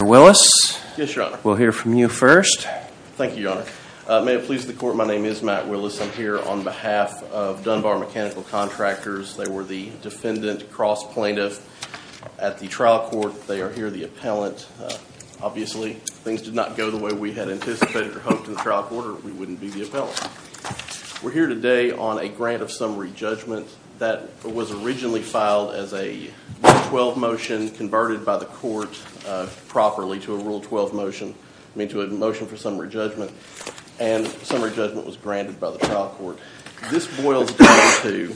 Yes, Your Honor. We'll hear from you first. Thank you, Your Honor. May it please the Court, my name is Matt Willis. I'm here on behalf of Dunbar Mechanical Contractors. They were the defendant, cross plaintiff at the trial court. They are here, the appellant. Obviously, if things did not go the way we had anticipated or hoped in the trial court, we wouldn't be the appellant. We're here today on a grant of summary judgment that was originally filed as a 112 motion and converted by the court properly to a rule 12 motion, I mean to a motion for summary judgment. And summary judgment was granted by the trial court. This boils down to,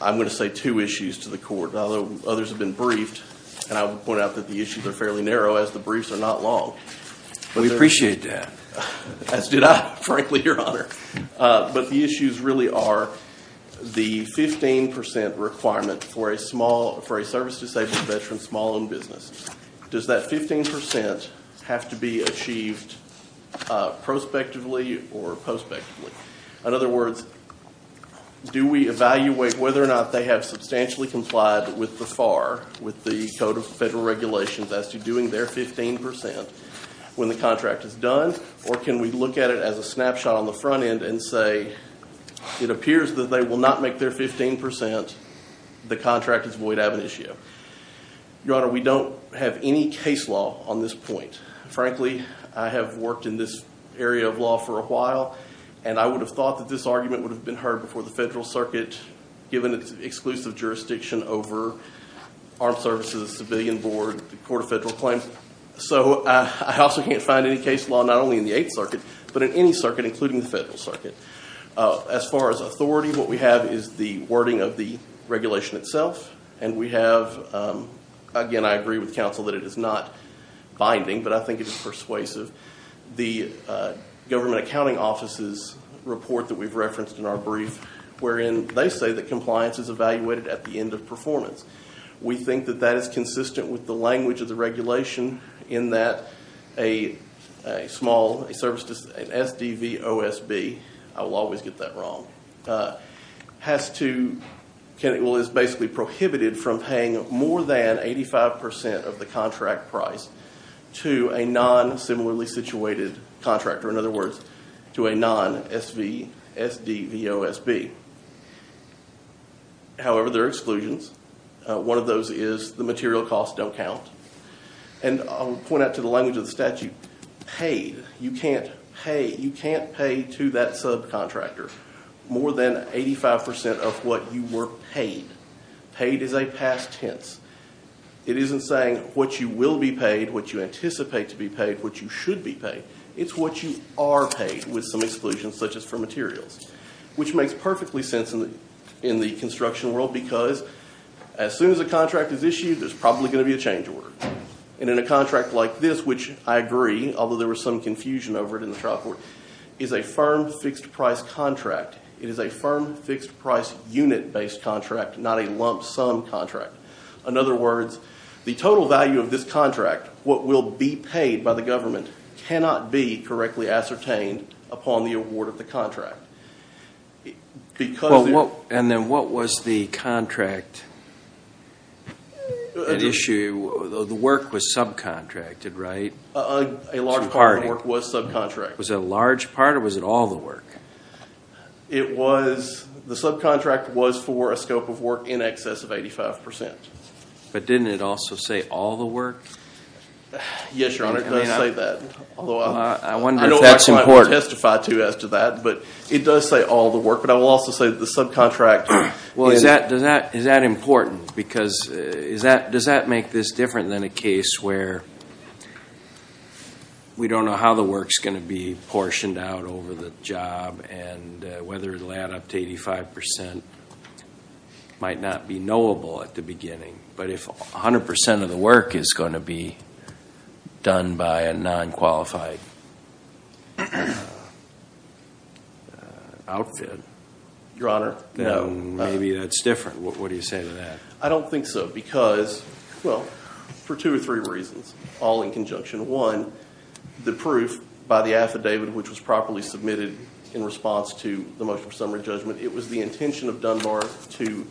I'm going to say two issues to the court, although others have been briefed. And I will point out that the issues are fairly narrow as the briefs are not long. We appreciate that. As did I, frankly, Your Honor. But the issues really are the 15% requirement for a service disabled veteran's small-owned business. Does that 15% have to be achieved prospectively or prospectively? In other words, do we evaluate whether or not they have substantially complied with the FAR, with the Code of Federal Regulations, as to doing their 15% when the contract is done? Or can we look at it as a snapshot on the front end and say, it appears that they will not make their 15% the contract is void ab initio? Your Honor, we don't have any case law on this point. Frankly, I have worked in this area of law for a while, and I would have thought that this argument would have been heard before the federal circuit, given its exclusive jurisdiction over Armed Services, Civilian Board, the Court of Federal Claims. So I also can't find any case law, not only in the Eighth Circuit, but in any circuit, including the federal circuit. As far as authority, what we have is the wording of the regulation itself, and we have, again, I agree with counsel that it is not binding, but I think it is persuasive. The Government Accounting Office's report that we've referenced in our brief, wherein they say that compliance is evaluated at the end of performance. We think that that is consistent with the language of the regulation in that a small service, an SDVOSB, I will always get that wrong, is basically prohibited from paying more than 85% of the contract price to a non-similarly situated contractor. In other words, to a non-SVSDVOSB. However, there are exclusions. One of those is the material costs don't count. And I will point out to the language of the statute, paid. You can't pay to that subcontractor more than 85% of what you were paid. Paid is a past tense. It isn't saying what you will be paid, what you anticipate to be paid, what you should be paid. It's what you are paid, with some exclusions, such as for materials. Which makes perfectly sense in the construction world because as soon as a contract is issued, there's probably going to be a change of order. And in a contract like this, which I agree, although there was some confusion over it in the trial court, is a firm fixed price contract. It is a firm fixed price unit based contract, not a lump sum contract. In other words, the total value of this contract, what will be paid by the government, cannot be correctly ascertained upon the award of the contract. And then what was the contract issue? The work was subcontracted, right? A large part of the work was subcontracted. Was it a large part or was it all the work? The subcontract was for a scope of work in excess of 85%. But didn't it also say all the work? Yes, Your Honor, it does say that. I wonder if that's important. I know that's what I will testify to as to that. But it does say all the work. But I will also say that the subcontract. Well, is that important? Because does that make this different than a case where we don't know how the work is going to be portioned out over the job and whether it will add up to 85% might not be knowable at the beginning. But if 100% of the work is going to be done by a non-qualified outfit? Your Honor? No. Maybe that's different. What do you say to that? I don't think so because, well, for two or three reasons, all in conjunction. One, the proof by the affidavit, which was properly submitted in response to the motion for summary judgment, it was the intention of Dunbar to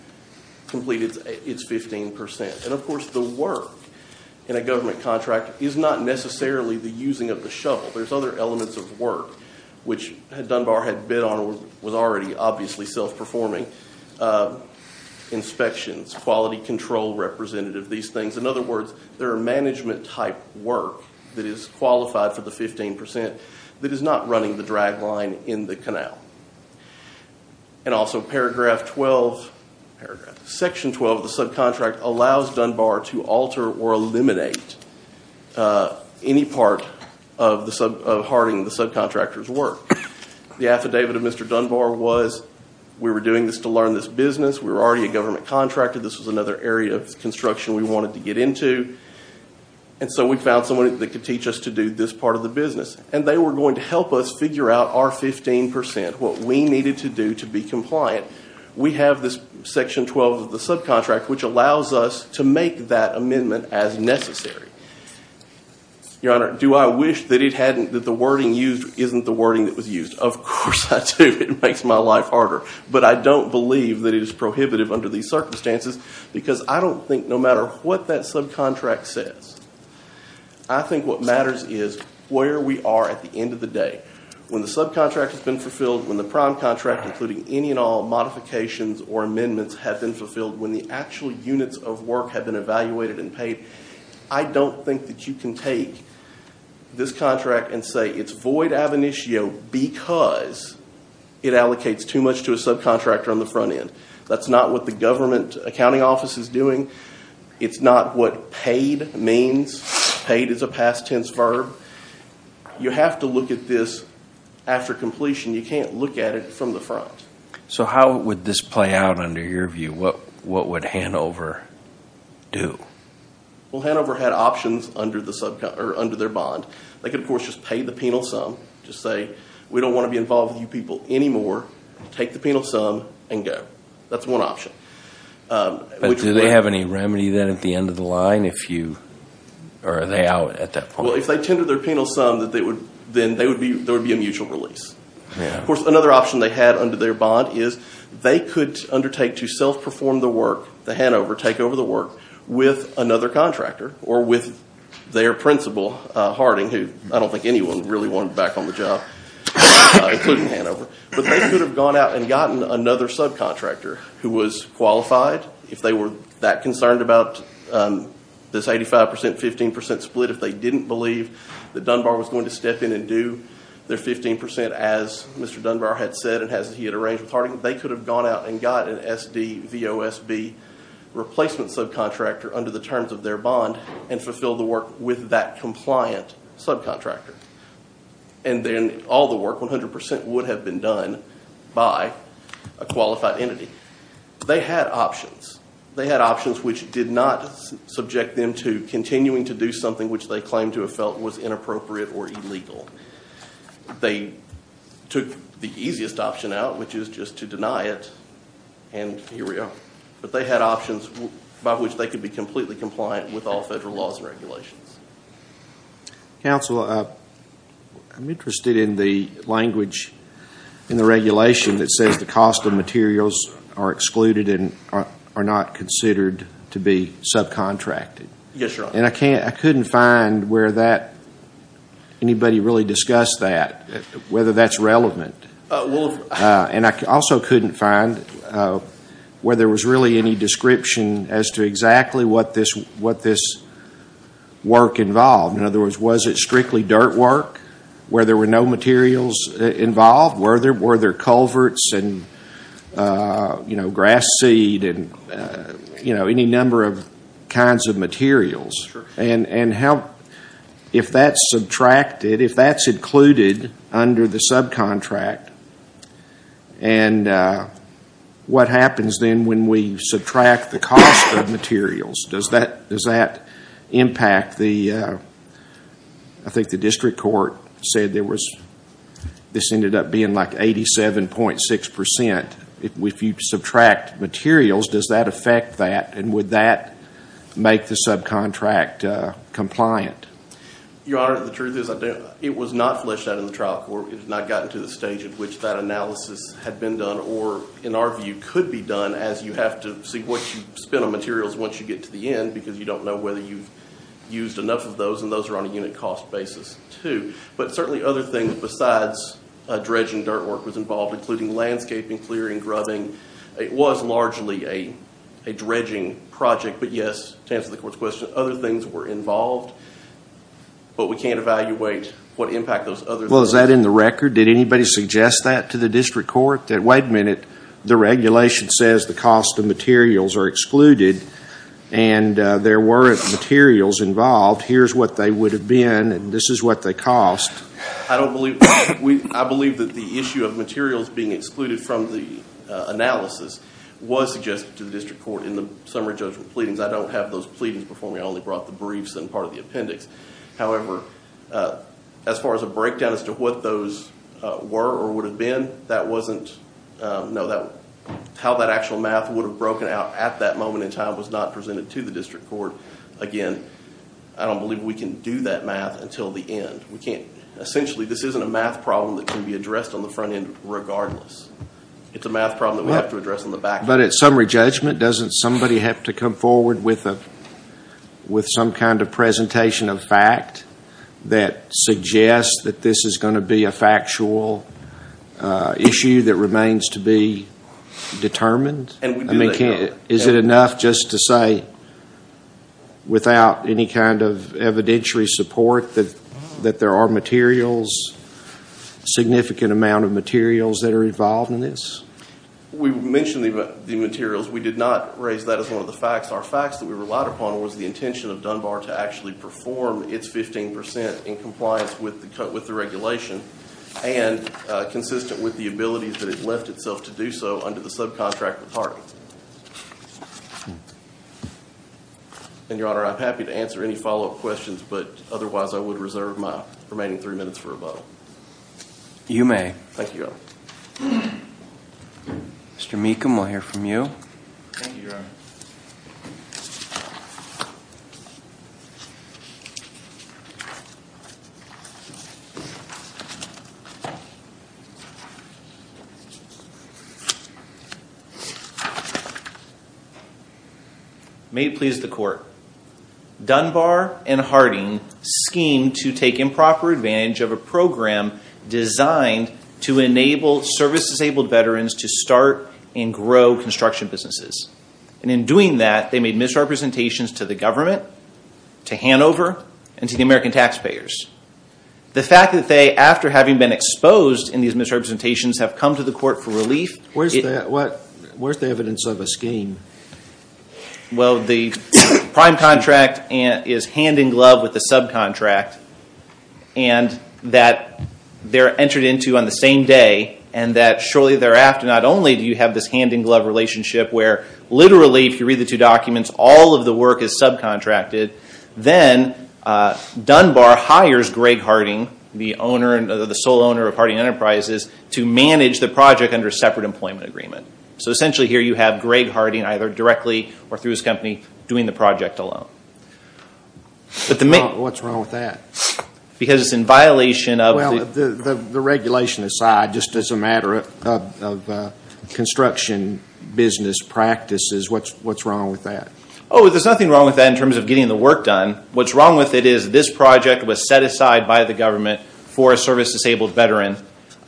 complete its 15%. And, of course, the work in a government contract is not necessarily the using of the shovel. There's other elements of work, which Dunbar had bid on and was already obviously self-performing, inspections, quality control representative, these things. In other words, there are management-type work that is qualified for the 15% that is not running the drag line in the canal. And also paragraph 12, section 12 of the subcontract allows Dunbar to alter or eliminate any part of hardening the subcontractor's work. The affidavit of Mr. Dunbar was we were doing this to learn this business. We were already a government contractor. This was another area of construction we wanted to get into. And so we found someone that could teach us to do this part of the business. And they were going to help us figure out our 15%, what we needed to do to be compliant. We have this section 12 of the subcontract, which allows us to make that amendment as necessary. Your Honor, do I wish that the wording used isn't the wording that was used? Of course I do. It makes my life harder. But I don't believe that it is prohibitive under these circumstances because I don't think no matter what that subcontract says, I think what matters is where we are at the end of the day. When the subcontract has been fulfilled, when the prime contract, including any and all modifications or amendments have been fulfilled, when the actual units of work have been evaluated and paid, I don't think that you can take this contract and say it's void ab initio because it allocates too much to a subcontractor on the front end. That's not what the government accounting office is doing. It's not what paid means. Paid is a past tense verb. You have to look at this after completion. You can't look at it from the front. So how would this play out under your view? What would Hanover do? Well, Hanover had options under their bond. They could, of course, just pay the penal sum, just say we don't want to be involved with you people anymore. Take the penal sum and go. That's one option. But do they have any remedy then at the end of the line? Or are they out at that point? Well, if they tendered their penal sum, then there would be a mutual release. Of course, another option they had under their bond is they could undertake to self-perform the work, the Hanover takeover the work, with another contractor or with their principal, Harding, who I don't think anyone really wanted back on the job, including Hanover. But they could have gone out and gotten another subcontractor who was qualified. If they were that concerned about this 85 percent, 15 percent split, if they didn't believe that Dunbar was going to step in and do their 15 percent, as Mr. Dunbar had said and as he had arranged with Harding, they could have gone out and got an SDVOSB replacement subcontractor under the terms of their bond and fulfill the work with that compliant subcontractor. And then all the work, 100 percent, would have been done by a qualified entity. They had options. They had options which did not subject them to continuing to do something which they claimed to have felt was inappropriate or illegal. They took the easiest option out, which is just to deny it, and here we are. But they had options by which they could be completely compliant with all federal laws and regulations. Counsel, I'm interested in the language in the regulation that says the cost of materials are excluded and are not considered to be subcontracted. Yes, Your Honor. And I couldn't find where anybody really discussed that, whether that's relevant. And I also couldn't find where there was really any description as to exactly what this work involved. In other words, was it strictly dirt work where there were no materials involved? Were there culverts and grass seed and any number of kinds of materials? Sure. And if that's included under the subcontract, what happens then when we subtract the cost of materials? Does that impact the, I think the district court said this ended up being like 87.6%. If you subtract materials, does that affect that? And would that make the subcontract compliant? Your Honor, the truth is it was not fleshed out in the trial court. It has not gotten to the stage at which that analysis had been done or in our view could be done as you have to see what you spend on materials once you get to the end because you don't know whether you've used enough of those and those are on a unit cost basis too. But certainly other things besides dredging dirt work was involved, including landscaping, clearing, grubbing. It was largely a dredging project. But yes, to answer the court's question, other things were involved. But we can't evaluate what impact those other things had. Well, is that in the record? Did anybody suggest that to the district court? That wait a minute, the regulation says the cost of materials are excluded and there weren't materials involved. Here's what they would have been and this is what they cost. I believe that the issue of materials being excluded from the analysis was suggested to the district court in the summary judgment pleadings. I don't have those pleadings before me. I only brought the briefs and part of the appendix. However, as far as a breakdown as to what those were or would have been, how that actual math would have broken out at that moment in time was not presented to the district court. Again, I don't believe we can do that math until the end. Essentially, this isn't a math problem that can be addressed on the front end regardless. It's a math problem that we have to address on the back end. At summary judgment, doesn't somebody have to come forward with some kind of presentation of fact that suggests that this is going to be a factual issue that remains to be determined? Is it enough just to say without any kind of evidentiary support that there are materials, significant amount of materials that are involved in this? We mentioned the materials. We did not raise that as one of the facts. Our facts that we relied upon was the intention of Dunbar to actually perform its 15% in compliance with the regulation and consistent with the ability that it left itself to do so under the subcontractor party. Your Honor, I'm happy to answer any follow-up questions, but otherwise I would reserve my remaining three minutes for a vote. You may. Thank you, Your Honor. Mr. Meekham, we'll hear from you. Thank you, Your Honor. May it please the Court. Dunbar and Harding schemed to take improper advantage of a program designed to enable service-disabled veterans to start and grow construction businesses. And in doing that, they made misrepresentations to the government, to Hanover, and to the American taxpayers. The fact that they, after having been exposed in these misrepresentations, have come to the Court for relief… Where's the evidence of a scheme? Well, the prime contract is hand-in-glove with the subcontract, and that they're entered into on the same day, and that shortly thereafter, not only do you have this hand-in-glove relationship where literally, if you read the two documents, all of the work is subcontracted. Then Dunbar hires Greg Harding, the sole owner of Harding Enterprises, to manage the project under a separate employment agreement. So essentially here you have Greg Harding either directly or through his company doing the project alone. What's wrong with that? Because it's in violation of the… Well, the regulation aside, just as a matter of construction business practices, what's wrong with that? Oh, there's nothing wrong with that in terms of getting the work done. What's wrong with it is this project was set aside by the government for a service-disabled veteran,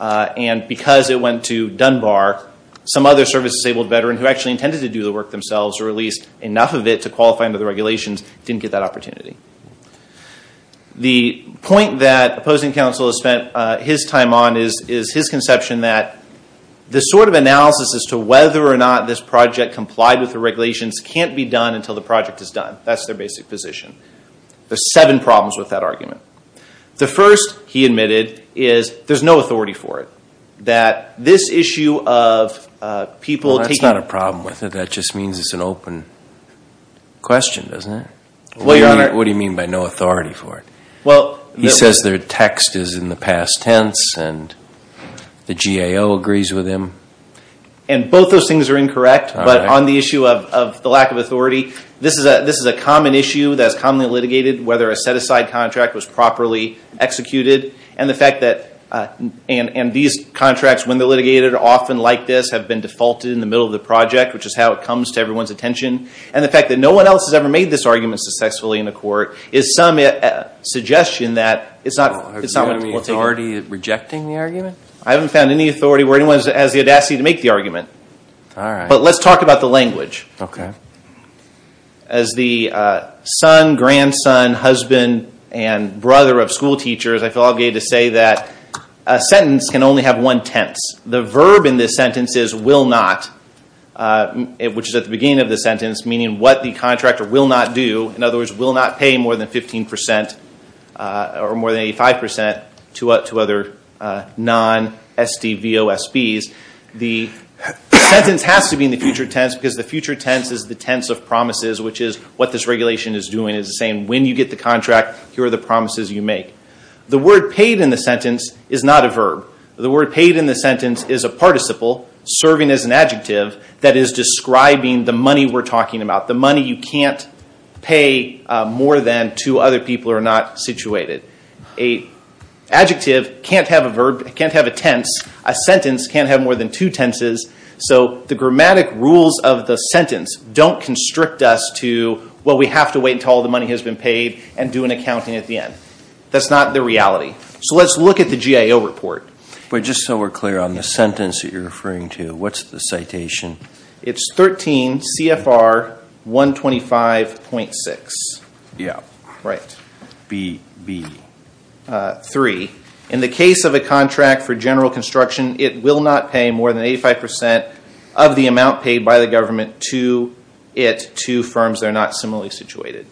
and because it went to Dunbar, some other service-disabled veteran who actually intended to do the work themselves or at least enough of it to qualify under the regulations didn't get that opportunity. The point that opposing counsel has spent his time on is his conception that this sort of analysis as to whether or not this project complied with the regulations can't be done until the project is done. That's their basic position. There's seven problems with that argument. The first, he admitted, is there's no authority for it, that this issue of people taking… That's an open question, isn't it? What do you mean by no authority for it? He says their text is in the past tense, and the GAO agrees with him. And both those things are incorrect, but on the issue of the lack of authority, this is a common issue that is commonly litigated, whether a set-aside contract was properly executed, and the fact that these contracts, when they're litigated, are often like this, have been defaulted in the middle of the project, which is how it comes to everyone's attention, and the fact that no one else has ever made this argument successfully in a court, is some suggestion that it's not… Have you found any authority in rejecting the argument? I haven't found any authority where anyone has the audacity to make the argument. All right. But let's talk about the language. Okay. As the son, grandson, husband, and brother of schoolteachers, I feel obligated to say that a sentence can only have one tense. The verb in this sentence is will not, which is at the beginning of the sentence, meaning what the contractor will not do. In other words, will not pay more than 15% or more than 85% to other non-SDVOSBs. The sentence has to be in the future tense because the future tense is the tense of promises, which is what this regulation is doing. It's saying when you get the contract, here are the promises you make. The word paid in the sentence is not a verb. The word paid in the sentence is a participle serving as an adjective that is describing the money we're talking about, the money you can't pay more than to other people who are not situated. An adjective can't have a verb, can't have a tense. A sentence can't have more than two tenses. So the grammatic rules of the sentence don't constrict us to, well, we have to wait until all the money has been paid and do an accounting at the end. That's not the reality. So let's look at the GIO report. But just so we're clear on the sentence that you're referring to, what's the citation? It's 13 CFR 125.6. Yeah. Right. B. B. Three. In the case of a contract for general construction, it will not pay more than 85% of the amount paid by the government to it to firms that are not similarly situated.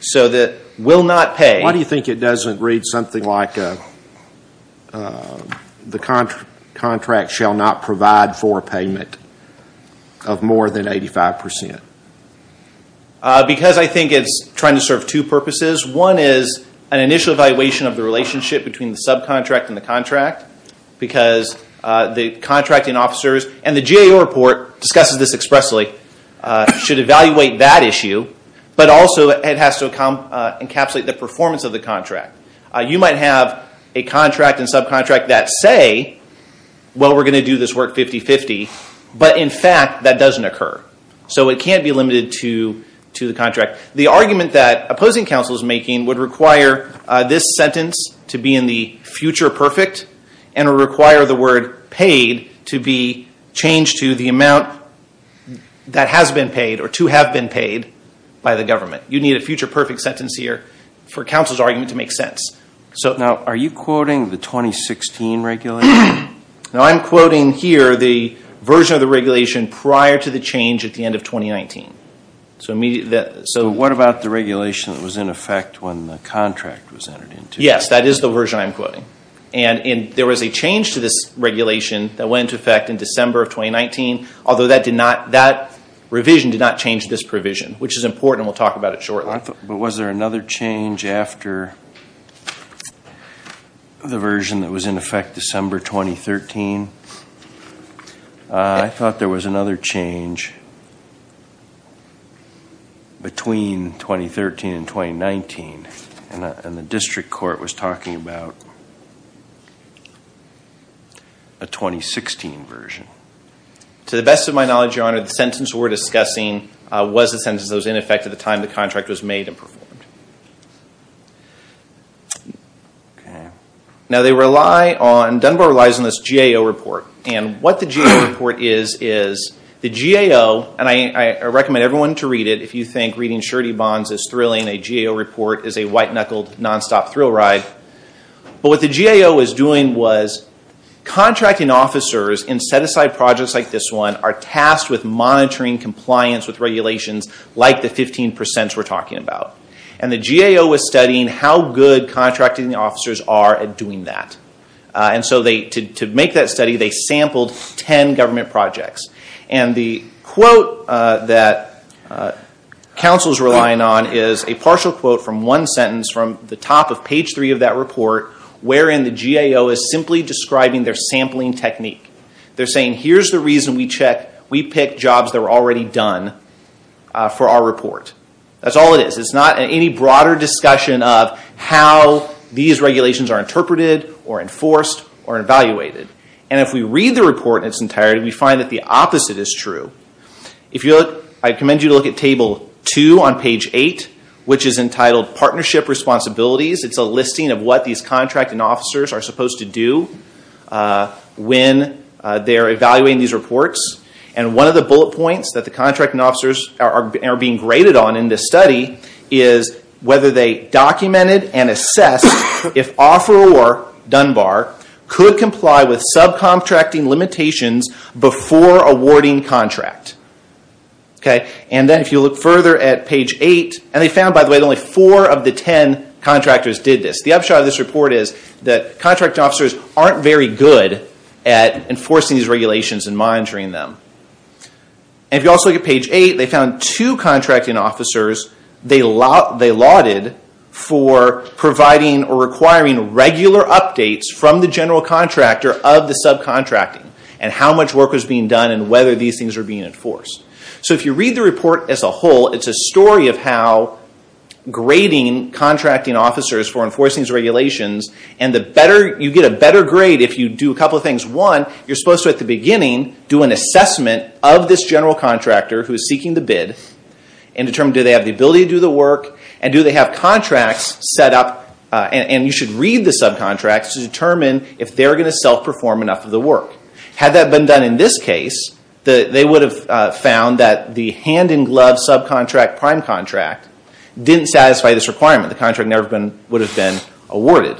So the will not pay. Why do you think it doesn't read something like the contract shall not provide for payment of more than 85%? Because I think it's trying to serve two purposes. One is an initial evaluation of the relationship between the subcontract and the contract because the contracting officers, and the GIO report discusses this expressly, should evaluate that issue, but also it has to encapsulate the performance of the contract. You might have a contract and subcontract that say, well, we're going to do this work 50-50, but in fact that doesn't occur. So it can't be limited to the contract. The argument that opposing counsel is making would require this sentence to be in the future perfect and require the word paid to be changed to the amount that has been paid or to have been paid by the government. You need a future perfect sentence here for counsel's argument to make sense. Now, are you quoting the 2016 regulation? No, I'm quoting here the version of the regulation prior to the change at the end of 2019. So what about the regulation that was in effect when the contract was entered into? Yes, that is the version I'm quoting. And there was a change to this regulation that went into effect in December of 2019, although that revision did not change this provision, which is important, and we'll talk about it shortly. But was there another change after the version that was in effect December 2013? I thought there was another change between 2013 and 2019, and the district court was talking about a 2016 version. To the best of my knowledge, Your Honor, the sentence we're discussing was the sentence that was in effect at the time the contract was made and performed. Okay. Now, Dunbar relies on this GAO report, and what the GAO report is, is the GAO, and I recommend everyone to read it if you think reading surety bonds is thrilling. A GAO report is a white-knuckled, nonstop thrill ride. But what the GAO was doing was contracting officers in set-aside projects like this one are tasked with monitoring compliance with regulations like the 15% we're talking about. And the GAO was studying how good contracting officers are at doing that. And so to make that study, they sampled 10 government projects. And the quote that counsel is relying on is a partial quote from one sentence from the top of page 3 of that report, wherein the GAO is simply describing their sampling technique. They're saying, here's the reason we picked jobs that were already done for our report. That's all it is. It's not any broader discussion of how these regulations are interpreted or enforced or evaluated. And if we read the report in its entirety, we find that the opposite is true. I commend you to look at table 2 on page 8, which is entitled Partnership Responsibilities. It's a listing of what these contracting officers are supposed to do when they're evaluating these reports. And one of the bullet points that the contracting officers are being graded on in this study is whether they documented and assessed if Offeror Dunbar could comply with subcontracting limitations before awarding contract. And then if you look further at page 8, and they found, by the way, that only 4 of the 10 contractors did this. The upshot of this report is that contracting officers aren't very good at enforcing these regulations and monitoring them. And if you also look at page 8, they found two contracting officers they lauded for providing or requiring regular updates from the general contractor of the subcontracting and how much work was being done and whether these things were being enforced. So if you read the report as a whole, it's a story of how grading contracting officers for enforcing these regulations, and you get a better grade if you do a couple of things. One, you're supposed to, at the beginning, do an assessment of this general contractor who is seeking the bid, and determine do they have the ability to do the work, and do they have contracts set up, and you should read the subcontracts to determine if they're going to self-perform enough of the work. Had that been done in this case, they would have found that the hand-in-glove subcontract prime contract didn't satisfy this requirement. The contract never would have been awarded.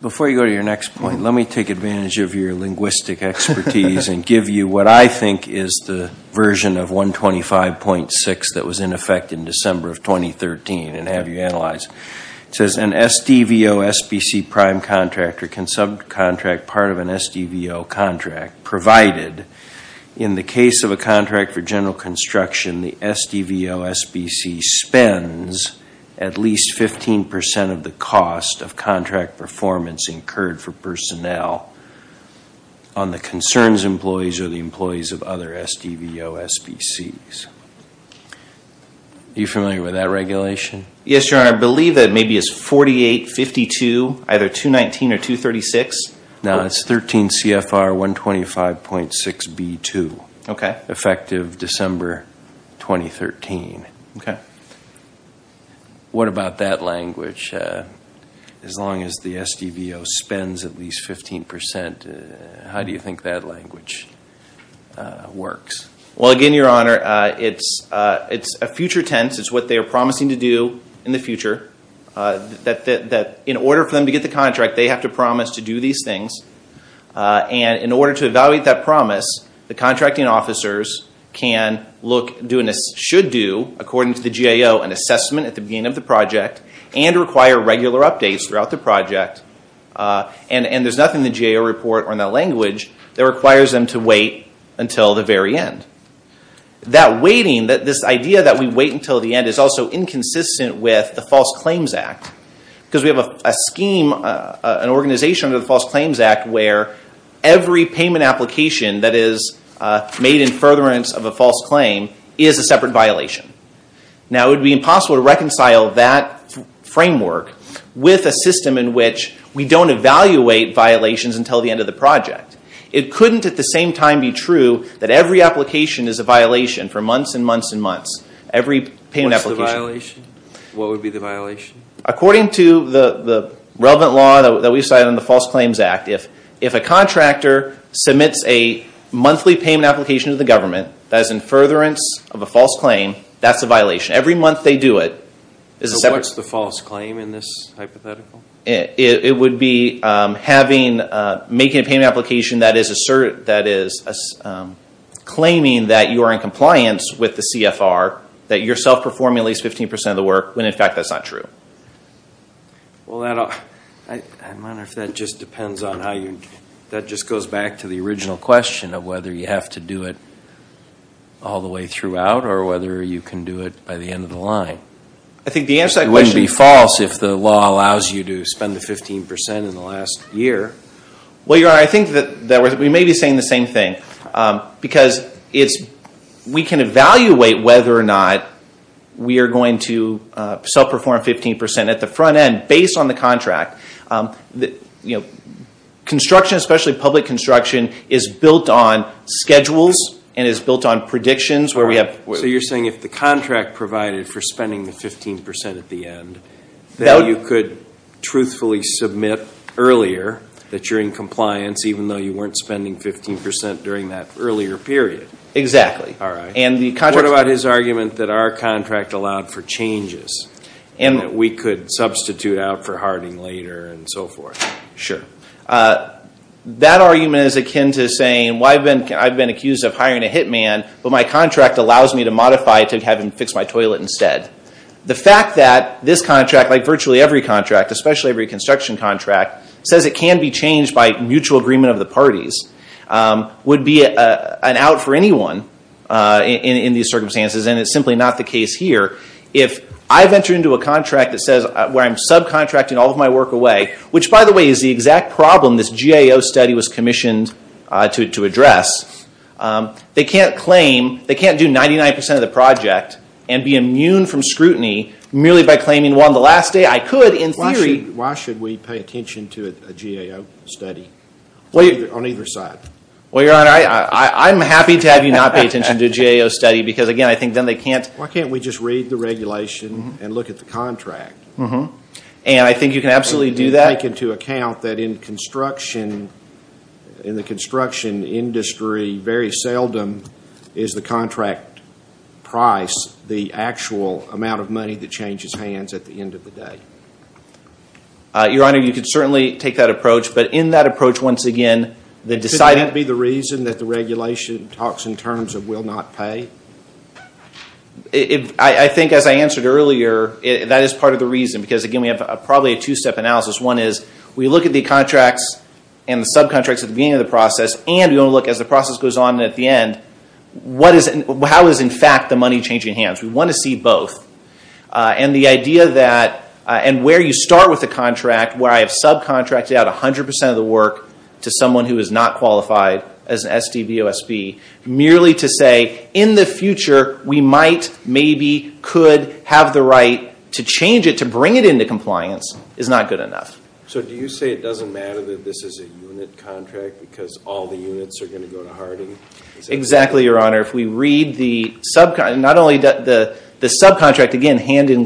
Before you go to your next point, let me take advantage of your linguistic expertise and give you what I think is the version of 125.6 that was in effect in December of 2013 and have you analyze it. It says an SDVO-SBC prime contractor can subcontract part of an SDVO contract, provided in the case of a contract for general construction, the SDVO-SBC spends at least 15% of the cost of contract performance incurred for personnel on the concerns employees or the employees of other SDVO-SBCs. Are you familiar with that regulation? Yes, Your Honor. I believe that maybe it's 4852, either 219 or 236. No, it's 13 CFR 125.6 B2, effective December 2013. What about that language? As long as the SDVO spends at least 15%, how do you think that language works? Again, Your Honor, it's a future tense. It's what they are promising to do in the future. In order for them to get the contract, they have to promise to do these things. In order to evaluate that promise, the contracting officers should do, according to the GAO, an assessment at the beginning of the project and require regular updates throughout the project. There's nothing in the GAO report or in that language that requires them to wait until the very end. This idea that we wait until the end is also inconsistent with the False Claims Act. We have an organization under the False Claims Act where every payment application that is made in furtherance of a false claim is a separate violation. Now, it would be impossible to reconcile that framework with a system in which we don't evaluate violations until the end of the project. It couldn't at the same time be true that every application is a violation for months and months and months. What would be the violation? According to the relevant law that we cited in the False Claims Act, if a contractor submits a monthly payment application to the government that is in furtherance of a false claim, that's a violation. Every month they do it. What's the false claim in this hypothetical? It would be making a payment application that is claiming that you are in compliance with the CFR, that you're self-performing at least 15% of the work, when in fact that's not true. That just goes back to the original question of whether you have to do it all the way throughout, or whether you can do it by the end of the line. It wouldn't be false if the law allows you to spend the 15% in the last year. We may be saying the same thing. We can evaluate whether or not we are going to self-perform 15% at the front end based on the contract. Construction, especially public construction, is built on schedules, and is built on predictions. So you're saying if the contract provided for spending the 15% at the end, that you could truthfully submit earlier that you're in compliance even though you weren't spending 15% during that earlier period. What about his argument that our contract allowed for changes? That we could substitute out for harding later and so forth. That argument is akin to saying I've been accused of hiring a hitman, but my contract allows me to modify it to have him fix my toilet instead. The fact that this contract, like virtually every contract, especially every construction contract, says it can be changed by mutual agreement of the parties, would be an out for anyone in these circumstances, and it's simply not the case here. If I venture into a contract where I'm subcontracting all of my work away, which by the way is the exact problem this GAO study was commissioned to address, they can't claim, they can't do 99% of the project and be immune from scrutiny merely by claiming on the last day I could in theory. Why should we pay attention to a GAO study on either side? I'm happy to have you not pay attention to a GAO study. Why can't we just read the regulation and look at the contract? And I think you can absolutely do that. In the construction industry, very seldom is the contract price the actual amount of money that changes hands at the end of the day. Your Honor, you can certainly take that approach, but in that approach once again, Could that be the reason that the regulation talks in terms of will not pay? I think as I answered earlier, that is part of the reason, because again we have probably a two-step analysis. One is we look at the contracts and the subcontracts at the beginning of the process, and we want to look as the process goes on at the end, how is in fact the money changing hands? We want to see both. And where you start with the contract, where I have subcontracted out 100% of the work to someone who is not qualified as an SDVOSB, merely to say in the future we might, maybe, could have the right to change it, to bring it into compliance, is not good enough. So do you say it doesn't matter that this is a unit contract because all the units are going to go to Harding? Exactly, Your Honor. The subcontract with Harding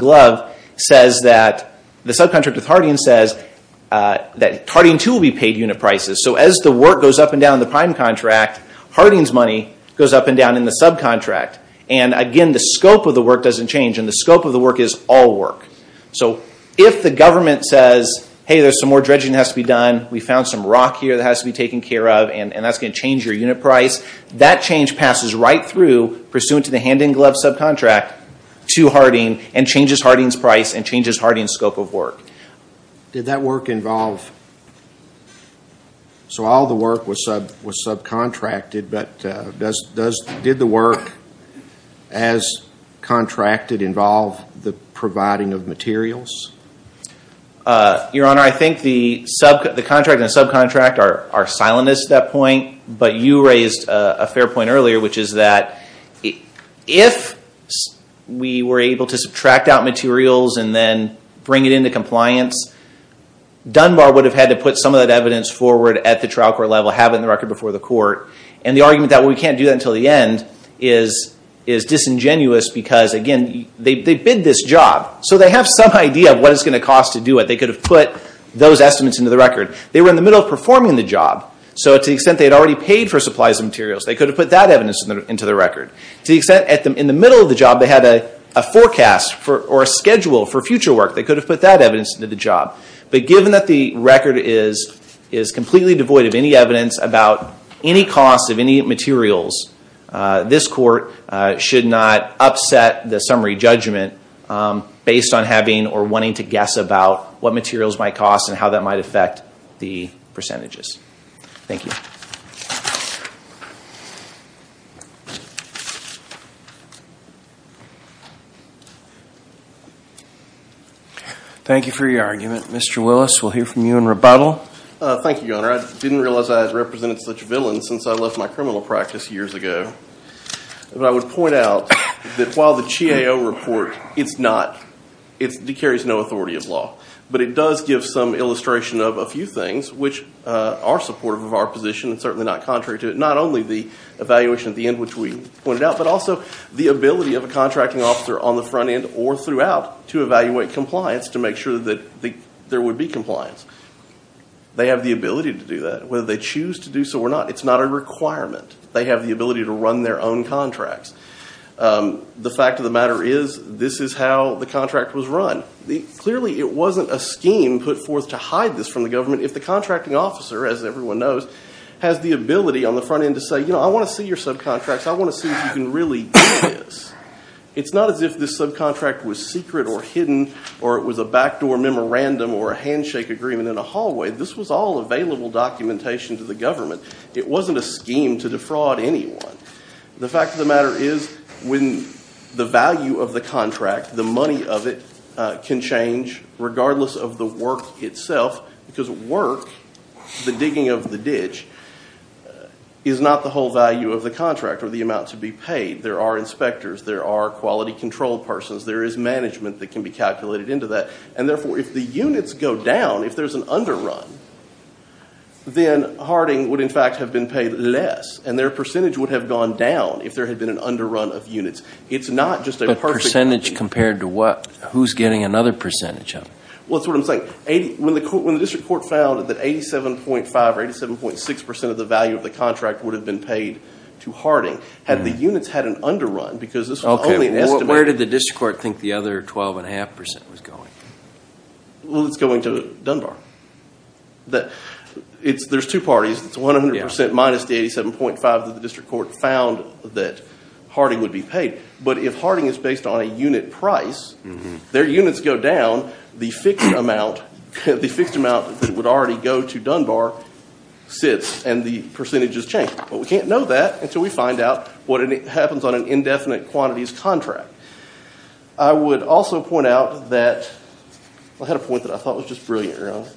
says that Harding too will be paid unit prices. So as the work goes up and down in the prime contract, Harding's money goes up and down in the subcontract. And again, the scope of the work doesn't change, and the scope of the work is all work. So if the government says, hey, there's some more dredging that has to be done, we found some rock here that has to be taken care of, and that's going to change your unit price, that change passes right through pursuant to the hand-in-glove subcontract to Harding, and changes Harding's price and changes Harding's scope of work. Did that work involve, so all the work was subcontracted, but did the work as contracted involve the providing of materials? Your Honor, I think the contract and subcontract are silent at that point, but you raised a fair point earlier, which is that if we were able to subtract out materials and then bring it into compliance, Dunbar would have had to put some of that evidence forward at the trial court level, have it in the record before the court, and the argument that we can't do that until the end is disingenuous, because again, they bid this job, so they have some idea of what it's going to cost to do it. They could have put those estimates into the record. They were in the middle of performing the job, so to the extent they had already paid for supplies and materials, they could have put that evidence into the record. To the extent in the middle of the job they had a forecast or a schedule for future work, they could have put that evidence into the job. But given that the record is completely devoid of any evidence about any cost of any materials, this court should not upset the summary judgment based on having or wanting to guess about what materials might cost and how that might affect the percentages. Thank you. Thank you for your argument. Mr. Willis, we'll hear from you in rebuttal. Thank you, Your Honor. I didn't realize I had represented such villains since I left my criminal practice years ago. But I would point out that while the GAO report, it carries no authority of law, but it does give some illustration of a few things which are supportive of our position and certainly not contrary to it. Not only the evaluation at the end, which we pointed out, but also the ability of a contracting officer on the front end or throughout to evaluate compliance to make sure that there would be compliance. They have the ability to do that, whether they choose to do so or not. It's not a requirement. They have the ability to run their own contracts. The fact of the matter is, this is how the contract was run. Clearly, it wasn't a scheme put forth to hide this from the government if the contracting officer, as everyone knows, has the ability on the front end to say, you know, I want to see your subcontracts. I want to see if you can really do this. It's not as if this subcontract was secret or hidden or it was a backdoor memorandum or a handshake agreement in a hallway. This was all available documentation to the government. It wasn't a scheme to defraud anyone. The fact of the matter is, when the value of the contract, the money of it, can change regardless of the work itself, because work, the digging of the ditch, is not the whole value of the contract or the amount to be paid. There are inspectors. There are quality control persons. There is management that can be calculated into that. And therefore, if the units go down, if there's an underrun, then Harding would in fact have been paid less and their percentage would have gone down if there had been an underrun of units. It's not just a perfect... But percentage compared to what? Who's getting another percentage of it? Well, that's what I'm saying. When the district court found that 87.5 or 87.6 percent of the value of the contract would have been paid to Harding, had the units had an underrun, because this was only an estimate... Where did the district court think the other 12.5 percent was going? Well, it's going to Dunbar. There's two parties. It's 100 percent minus the 87.5 that the district court found that Harding would be paid. But if Harding is based on a unit price, their units go down, the fixed amount that would already go to Dunbar sits, and the percentages change. But we can't know that until we find out what happens on an indefinite quantities contract. I would also point out that... I had a point that I thought was just brilliant, Your Honor.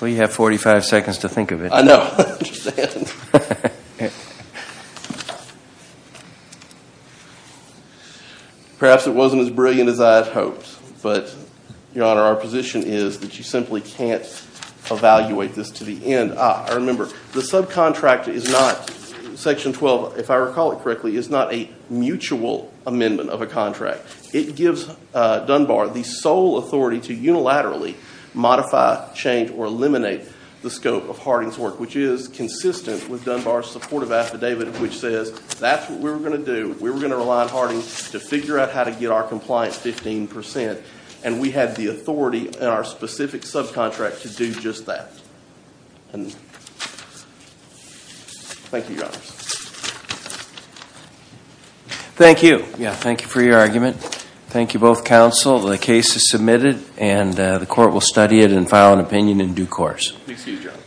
Well, you have 45 seconds to think of it. I know. I understand. Perhaps it wasn't as brilliant as I had hoped, but, Your Honor, our position is that you simply can't evaluate this to the end. I remember the subcontract is not... Section 12, if I recall it correctly, is not a mutual amendment of a contract. It gives Dunbar the sole authority to unilaterally modify, change, or eliminate the scope of Harding's work. Which is consistent with Dunbar's supportive affidavit, which says that's what we were going to do. We were going to rely on Harding to figure out how to get our compliance 15 percent. And we had the authority in our specific subcontract to do just that. Thank you, Your Honor.